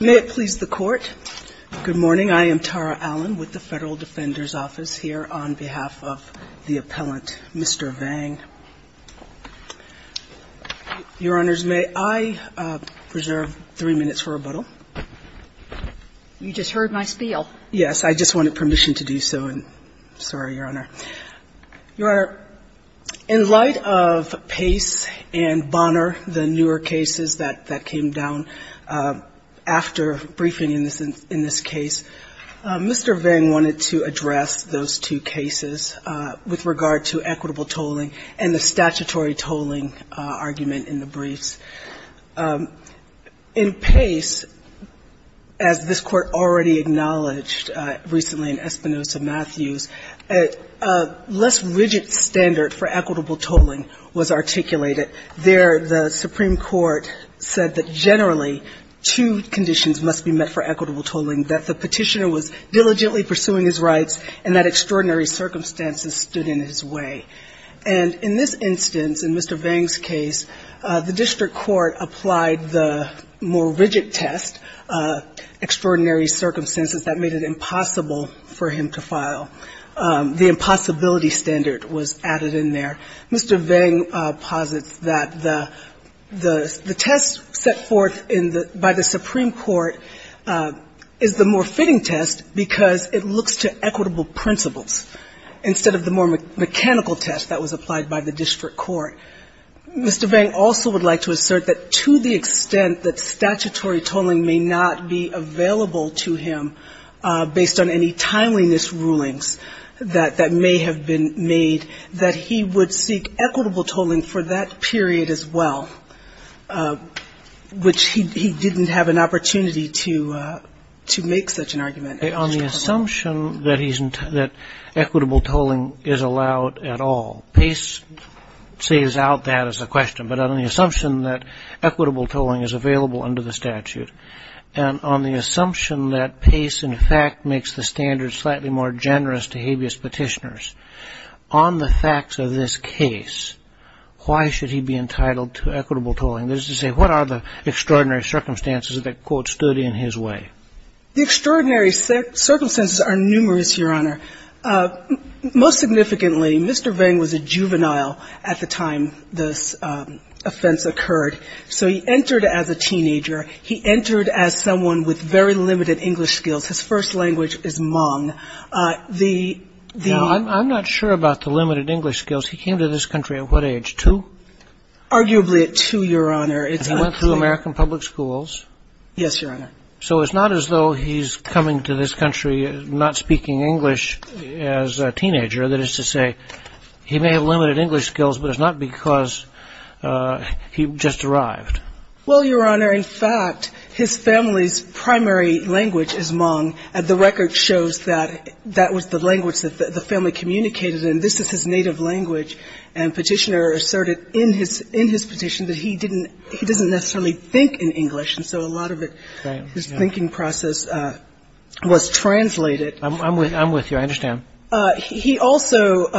May it please the Court, good morning. I am Tara Allen with the Federal Defender's Office here on behalf of the appellant, Mr. Vang. Your Honors, may I preserve three minutes for rebuttal? You just heard my spiel. Yes, I just wanted permission to do so. Sorry, that came down after briefing in this case. Mr. Vang wanted to address those two cases with regard to equitable tolling and the statutory tolling argument in the briefs. In Pace, as this Court already acknowledged recently in Espinoza-Matthews, a less rigid standard for equitable tolling. The District Court said that generally two conditions must be met for equitable tolling, that the petitioner was diligently pursuing his rights and that extraordinary circumstances stood in his way. And in this instance, in Mr. Vang's case, the District Court applied the more rigid test, extraordinary circumstances, that made it impossible for him to file. The impossibility standard was added in there. Mr. Vang posits that the test set forth in the by the Supreme Court is the more fitting test because it looks to equitable principles instead of the more mechanical test that was applied by the District Court. Mr. Vang also would like to assert that to the extent that statutory tolling may not be available to him based on any timeliness rulings that may have been made, that he would seek equitable tolling for that period as well, which he didn't have an opportunity to make such an argument. On the assumption that equitable tolling is allowed at all, Pace saves out that as a question, but on the assumption that equitable tolling is available under the statute, and on the assumption that Pace in fact makes the standards slightly more generous to habeas petitioners, on the facts of this case, why should he be entitled to equitable tolling? That is to say, what are the extraordinary circumstances that, quote, stood in his way? The extraordinary circumstances are numerous, Your Honor. Most significantly, Mr. Vang was a juvenile at the time this offense occurred, so he entered as a teenager. He entered as someone with very limited English skills. His first language is Hmong. Now, I'm not sure about the limited English skills. He came to this country at what age, 2? Arguably at 2, Your Honor. And he went through American public schools. Yes, Your Honor. So it's not as though he's coming to this country not speaking English as a teenager. That is to say, he may have limited English skills, but it's not because he just arrived. Well, Your Honor, in fact, his family's primary language is Hmong, and the record shows that that was the language that the family communicated, and this is his native language. And Petitioner asserted in his petition that he didn't he doesn't necessarily think in English, and so a lot of it, his thinking process, was translated. I'm with you. I understand. He also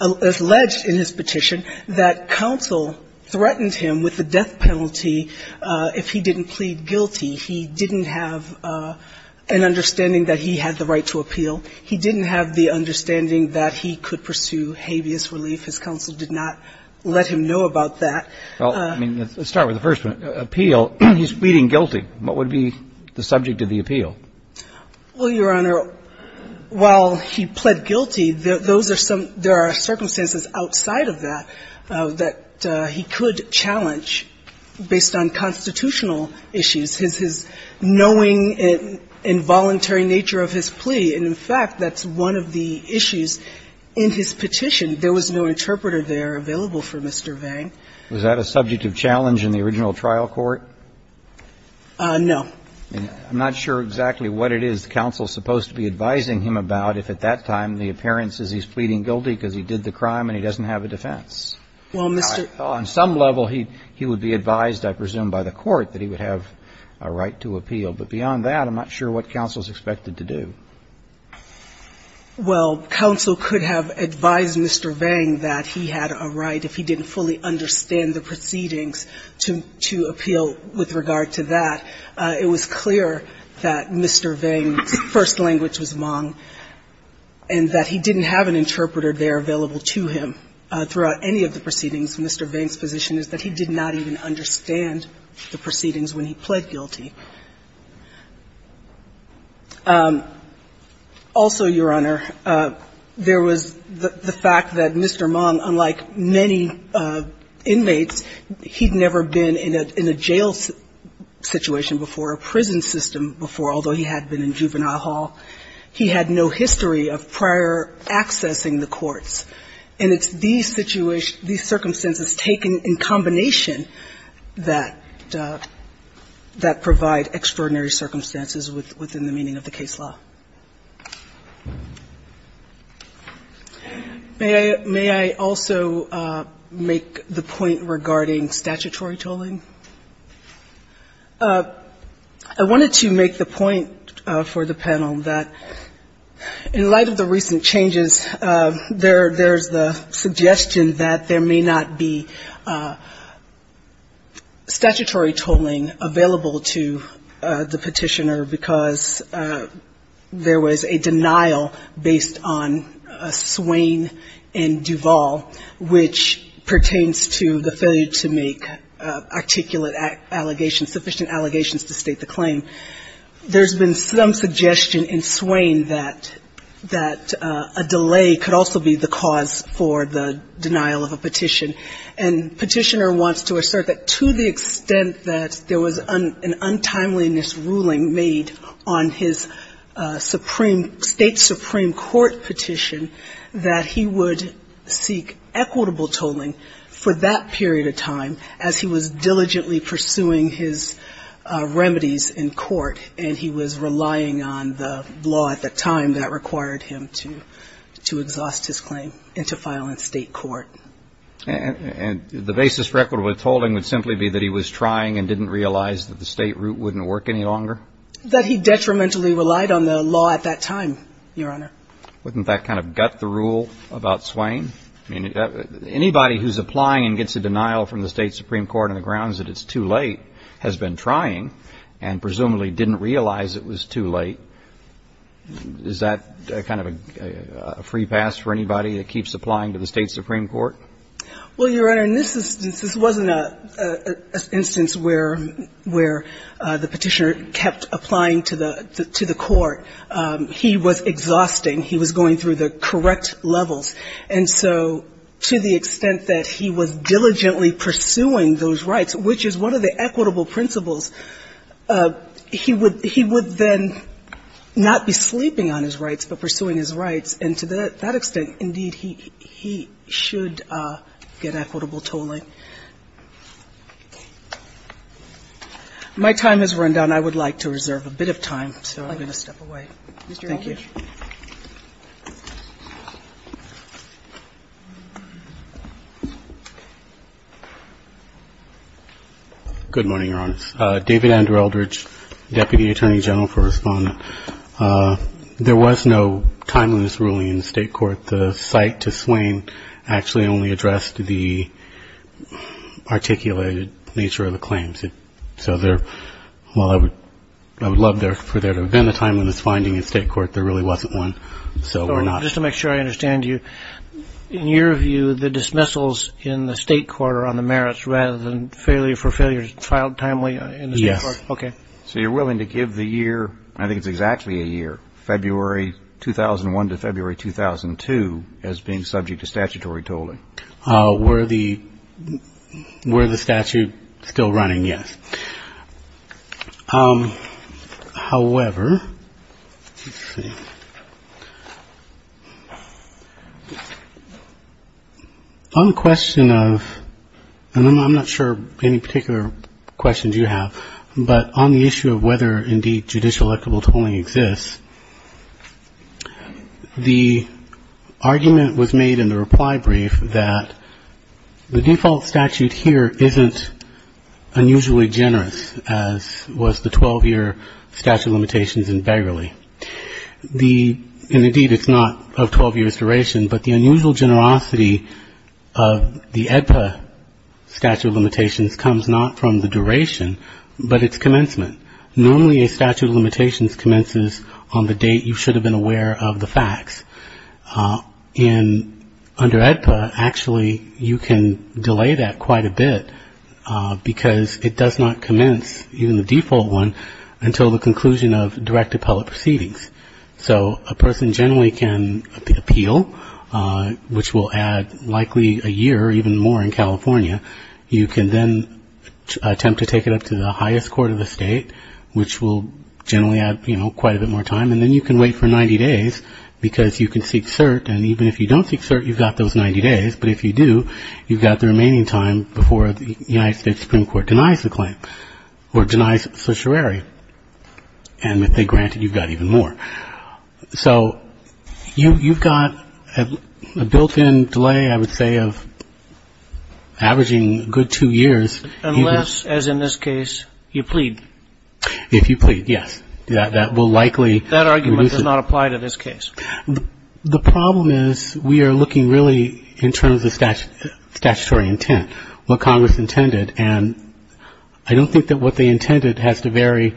alleged in his petition that counsel threatened him with the death penalty if he didn't plead guilty. He didn't have an understanding that he had the right to appeal. He didn't have the understanding that he could pursue habeas relief. His counsel did not let him know about that. Well, I mean, let's start with the first one. Appeal. He's pleading guilty. What would be the subject of the appeal? Well, Your Honor, while he pled guilty, those are some — there are circumstances outside of that that he could challenge based on constitutional issues. His knowing involuntary nature of his plea, and in fact, that's one of the issues in his petition. There was no interpreter there available for Mr. Vang. Was that a subject of challenge in the original trial court? No. I'm not sure exactly what it is the counsel is supposed to be advising him about if at that time the appearance is he's pleading guilty because he did the crime and he doesn't have a defense. On some level, he would be advised, I presume, by the court that he would have a right to appeal. But beyond that, I'm not sure what counsel is expected to do. Well, counsel could have advised Mr. Vang that he had a right, if he didn't fully understand the proceedings, to appeal with regard to that. It was clear that Mr. Vang's first language was Hmong and that he didn't have an interpreter there available to him throughout any of the proceedings. Mr. Vang's position is that he did not even understand the proceedings when he pled guilty. Also, Your Honor, there was the fact that Mr. Hmong, unlike many inmates, he had never been in a jail situation before, a prison system before, although he had been in juvenile hall. He had no history of prior accessing the courts. And it's these circumstances taken in combination that provide extraordinary circumstances within the meaning of the case law. May I also make the point regarding statutory tolling? I wanted to make the point for the panel that in light of the recent changes, there's the suggestion that there may not be statutory tolling available to the Petitioner, because the Petitioner's claim that there was a denial based on Swain and Duvall, which pertains to the failure to make articulate allegations, sufficient allegations to state the claim, there's been some suggestion in Swain that a delay could also be the cause for the denial of a petition. And Petitioner wants to assert that to the extent that there was an untimeliness ruling made on his state supreme court petition, that he would seek equitable tolling for that period of time as he was diligently pursuing his remedies in court and he was relying on the law at the time that required him to exhaust his claim and to file in state court. And the basis for equitable tolling would simply be that he was trying and didn't realize that the state route wouldn't work any longer? That he detrimentally relied on the law at that time, Your Honor. Wouldn't that kind of gut the rule about Swain? I mean, anybody who's applying and gets a denial from the state supreme court on the grounds that it's too late has been trying and presumably didn't realize it was too late. Is that kind of a free pass for anybody that keeps applying to the state supreme court? Well, Your Honor, in this instance, this wasn't an instance where the Petitioner kept applying to the court. He was exhausting. He was going through the correct levels. And so to the extent that he was diligently pursuing those rights, which is one of the equitable principles, he would then not be sleeping on his rights but pursuing his rights. And to that extent, indeed, he should get equitable tolling. My time has run down. I would like to reserve a bit of time, so I'm going to step away. Thank you. Mr. Eldridge. Good morning, Your Honor. David Andrew Eldridge, Deputy Attorney General for Respondent. There was no timeliness ruling in the state court. The cite to Swain actually only addressed the articulated nature of the claims. So there – well, I would love for there to have been a timeliness finding in state court. There really wasn't one. So we're not – Just to make sure I understand you, in your view, the dismissals in the state court are on the merits rather than failure for failure filed timely in the state court? Yes. Okay. So you're willing to give the year – I think it's exactly a year – February 2001 to February 2002 as being subject to statutory tolling? Were the statute still running, yes. However, let's see. On the question of – and I'm not sure any particular questions you have, but on the issue of whether, indeed, judicial equitable tolling exists, the argument was made in the reply brief that the default statute here isn't unusually generous, as was the 12-year statute of limitations in Begley. And indeed, it's not of 12 years' duration, but the unusual generosity of the AEDPA statute of limitations comes not from the duration, but its commencement. Normally, a statute of limitations commences on the date you should have been aware of the facts. And under AEDPA, actually, you can delay that quite a bit, because it does not commence, even the default one, until the proceedings. So a person generally can appeal, which will add likely a year or even more in California. You can then attempt to take it up to the highest court of the state, which will generally add, you know, quite a bit more time. And then you can wait for 90 days, because you can seek cert, and even if you don't seek cert, you've got those 90 days. But if you do, you've got the remaining time before the United States Supreme Court denies the claim or denies certiorari. And if they grant it, you've got even more. So you've got a built-in delay, I would say, of averaging a good two years. Unless, as in this case, you plead. If you plead, yes. That argument does not apply to this case. The problem is we are looking really in terms of statutory intent, what Congress intended. And I don't think that what they intended has to vary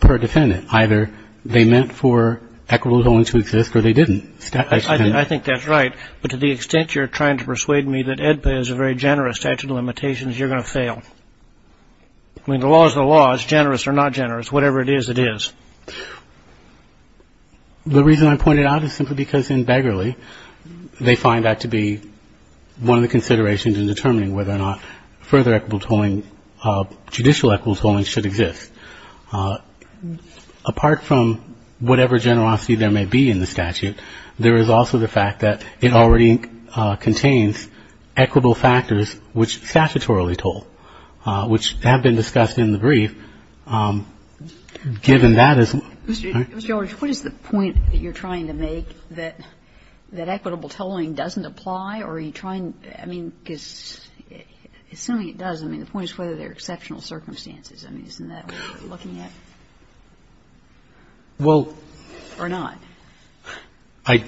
per defendant. Either they meant for equitable holdings to exist, or they didn't. I think that's right. But to the extent you're trying to persuade me that AEDPA is a very generous statute of limitations, you're going to fail. I mean, the law is the law. It's generous or not generous. Whatever it is, it is. The reason I point it out is simply because in Beggarly, they find that to be one of the considerations in determining whether or not further equitable tolling, judicial equitable tolling should exist. Apart from whatever generosity there may be in the statute, there is also the fact that it already contains equitable factors which statutorily toll, which have been discussed in the brief. Given that as a ---- Mr. George, what is the point that you're trying to make, that equitable tolling doesn't apply? Or are you trying to ---- I mean, assuming it does, I mean, the point is whether there are exceptional circumstances. I mean, isn't that what you're looking at? Well ---- Or not? I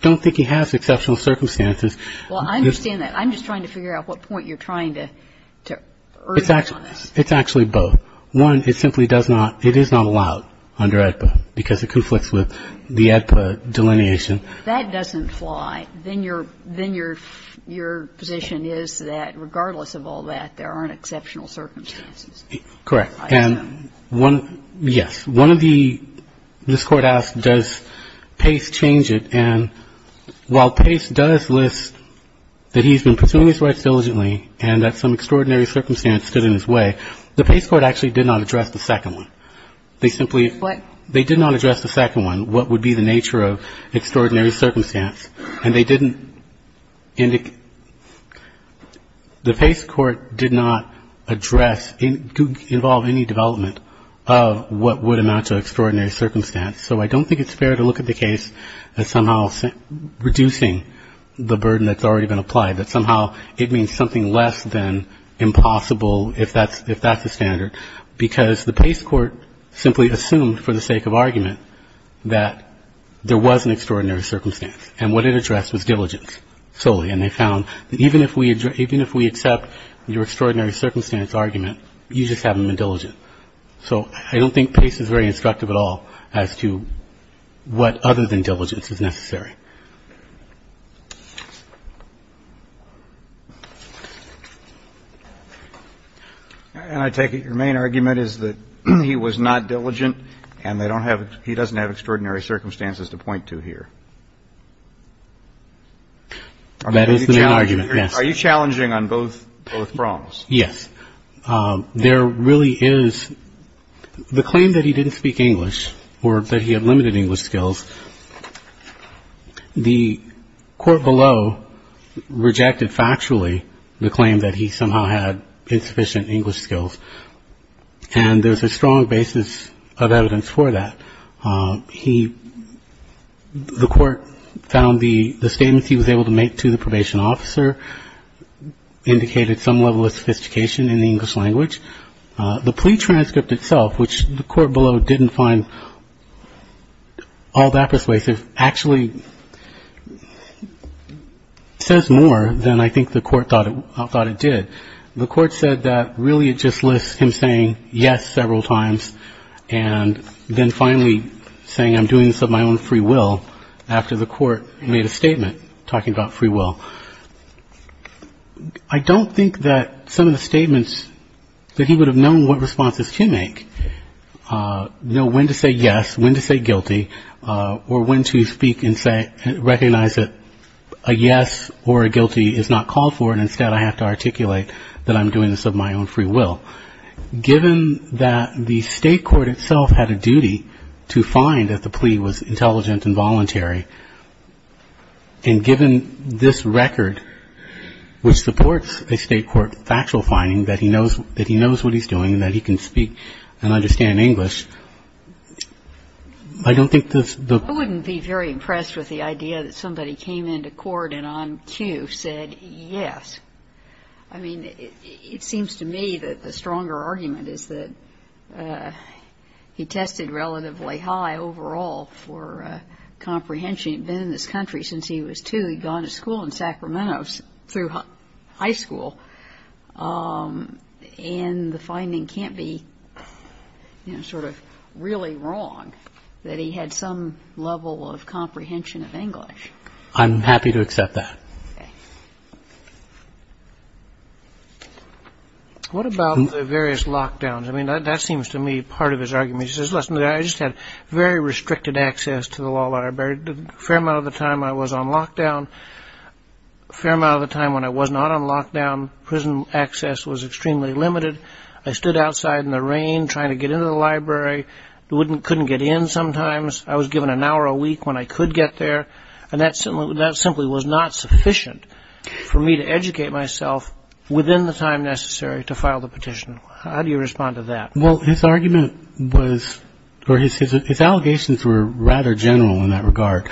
don't think it has exceptional circumstances. Well, I understand that. I'm just trying to figure out what point you're trying to urge on us. It's actually both. One, it simply does not, it is not allowed under AEDPA because it conflicts with the AEDPA delineation. If that doesn't fly, then your position is that regardless of all that, there aren't exceptional circumstances. Correct. And one ---- yes. One of the ---- this Court asked does Pace change it, and while Pace does list that he's been pursuing his rights diligently and that some extraordinary circumstance stood in his way, the Pace court actually did not address the second one. They simply ---- What? They did not address the second one, what would be the nature of extraordinary circumstance, and they didn't indicate ---- The Pace court did not address, involve any development of what would amount to extraordinary circumstance, so I don't think it's fair to look at the case as somehow reducing the burden that's already been applied, that somehow it means something less than impossible if that's the standard, because the Pace court simply assumed for the sake of argument that there was an extraordinary circumstance, and what it addressed was diligence solely, and they found that even if we accept your extraordinary circumstance argument, you just haven't been diligent. So I don't think Pace is very instructive at all as to what other than diligence is necessary. And I take it your main argument is that he was not diligent, and they don't have, he doesn't have extraordinary circumstances to point to here. That is the argument, yes. Are you challenging on both prongs? Yes. There really is, the claim that he didn't speak English or that he had limited English skills, the court below rejected factually the claim that he somehow had insufficient English skills, and there's a strong basis of evidence for that. He, the court found the statements he was able to make to the probation officer indicated some level of sophistication in the English language. The plea transcript itself, which the court below didn't find all that persuasive, actually says more than I think the court thought it did. The court said that really it just lists him saying yes several times and then finally saying I'm doing this of my own free will after the court made a statement talking about free will. I don't think that some of the statements that he would have known what responses to make, know when to say yes, when to say guilty, or when to speak and say, I recognize that a yes or a guilty is not called for and instead I have to articulate that I'm doing this of my own free will. Given that the state court itself had a duty to find that the plea was intelligent and voluntary, and given this record, which supports a state court factual finding that he knows what he's doing and that he can speak and understand English, I don't think the I wouldn't be very impressed with the idea that somebody came into court and on cue said yes. I mean, it seems to me that the stronger argument is that he tested relatively high overall for comprehension. He'd been in this country since he was two. He'd gone to school in Sacramento through high school. And the finding can't be sort of really wrong that he had some level of comprehension of English. I'm happy to accept that. What about the various lockdowns? I mean, that seems to me part of his argument. He says, listen, I just had very restricted access to the law library. A fair amount of the time I was on lockdown, a fair amount of the time when I was not on lockdown, prison access was extremely limited. I stood outside in the rain trying to get into the library, couldn't get in sometimes. I was given an hour a week when I could get there. And that simply was not sufficient for me to educate myself within the time necessary to file the petition. How do you respond to that? Well, his argument was or his allegations were rather general in that regard.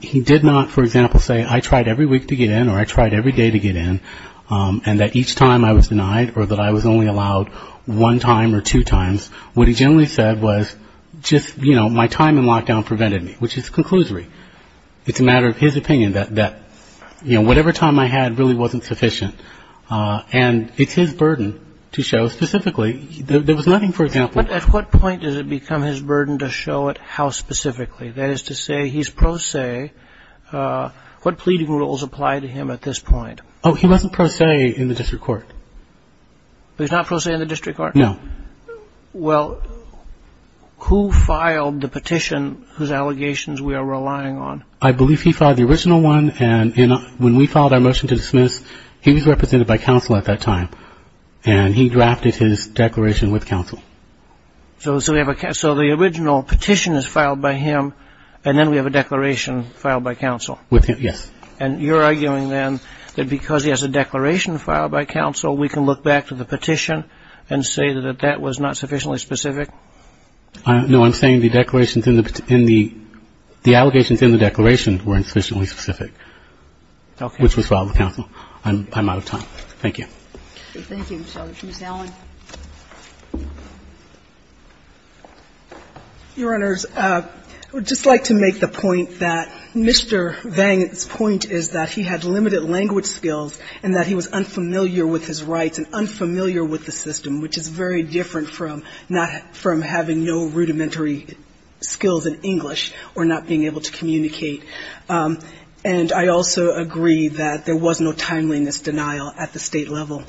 He did not, for example, say I tried every week to get in or I tried every day to get in and that each time I was denied or that I was only allowed one time or two times. What he generally said was just, you know, my time in lockdown prevented me, which is a conclusory. It's a matter of his opinion that, you know, whatever time I had really wasn't sufficient. And it's his burden to show specifically. There was nothing, for example. But at what point does it become his burden to show it how specifically? That is to say he's pro se. What pleading rules apply to him at this point? Oh, he wasn't pro se in the district court. He's not pro se in the district court? No. Well, who filed the petition whose allegations we are relying on? I believe he filed the original one and when we filed our motion to dismiss, he was represented by counsel at that time and he drafted his declaration with counsel. So the original petition is filed by him and then we have a declaration filed by counsel? With him, yes. And you're arguing then that because he has a declaration filed by counsel, we can look back to the petition and say that that was not sufficiently specific? No. I'm saying the declarations in the the allegations in the declaration weren't sufficiently specific, which was filed with counsel. I'm out of time. Thank you. Thank you. Ms. Allen. Your Honors, I would just like to make the point that Mr. Vang's point is that he had limited language skills and that he was unfamiliar with his rights and unfamiliar with the system, which is very different from having no rudimentary skills in English or not being able to communicate. And I also agree that there was no timeliness denial at the State level.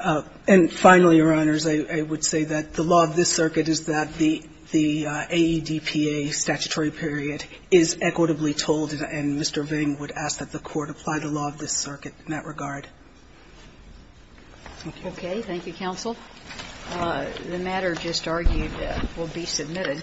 And finally, Your Honors, I would say that the law of this circuit is that the AEDPA statutory period is equitably told and Mr. Vang would ask that the Court apply the law of this circuit in that regard. Thank you. Okay. Thank you, counsel. The matter just argued will be submitted.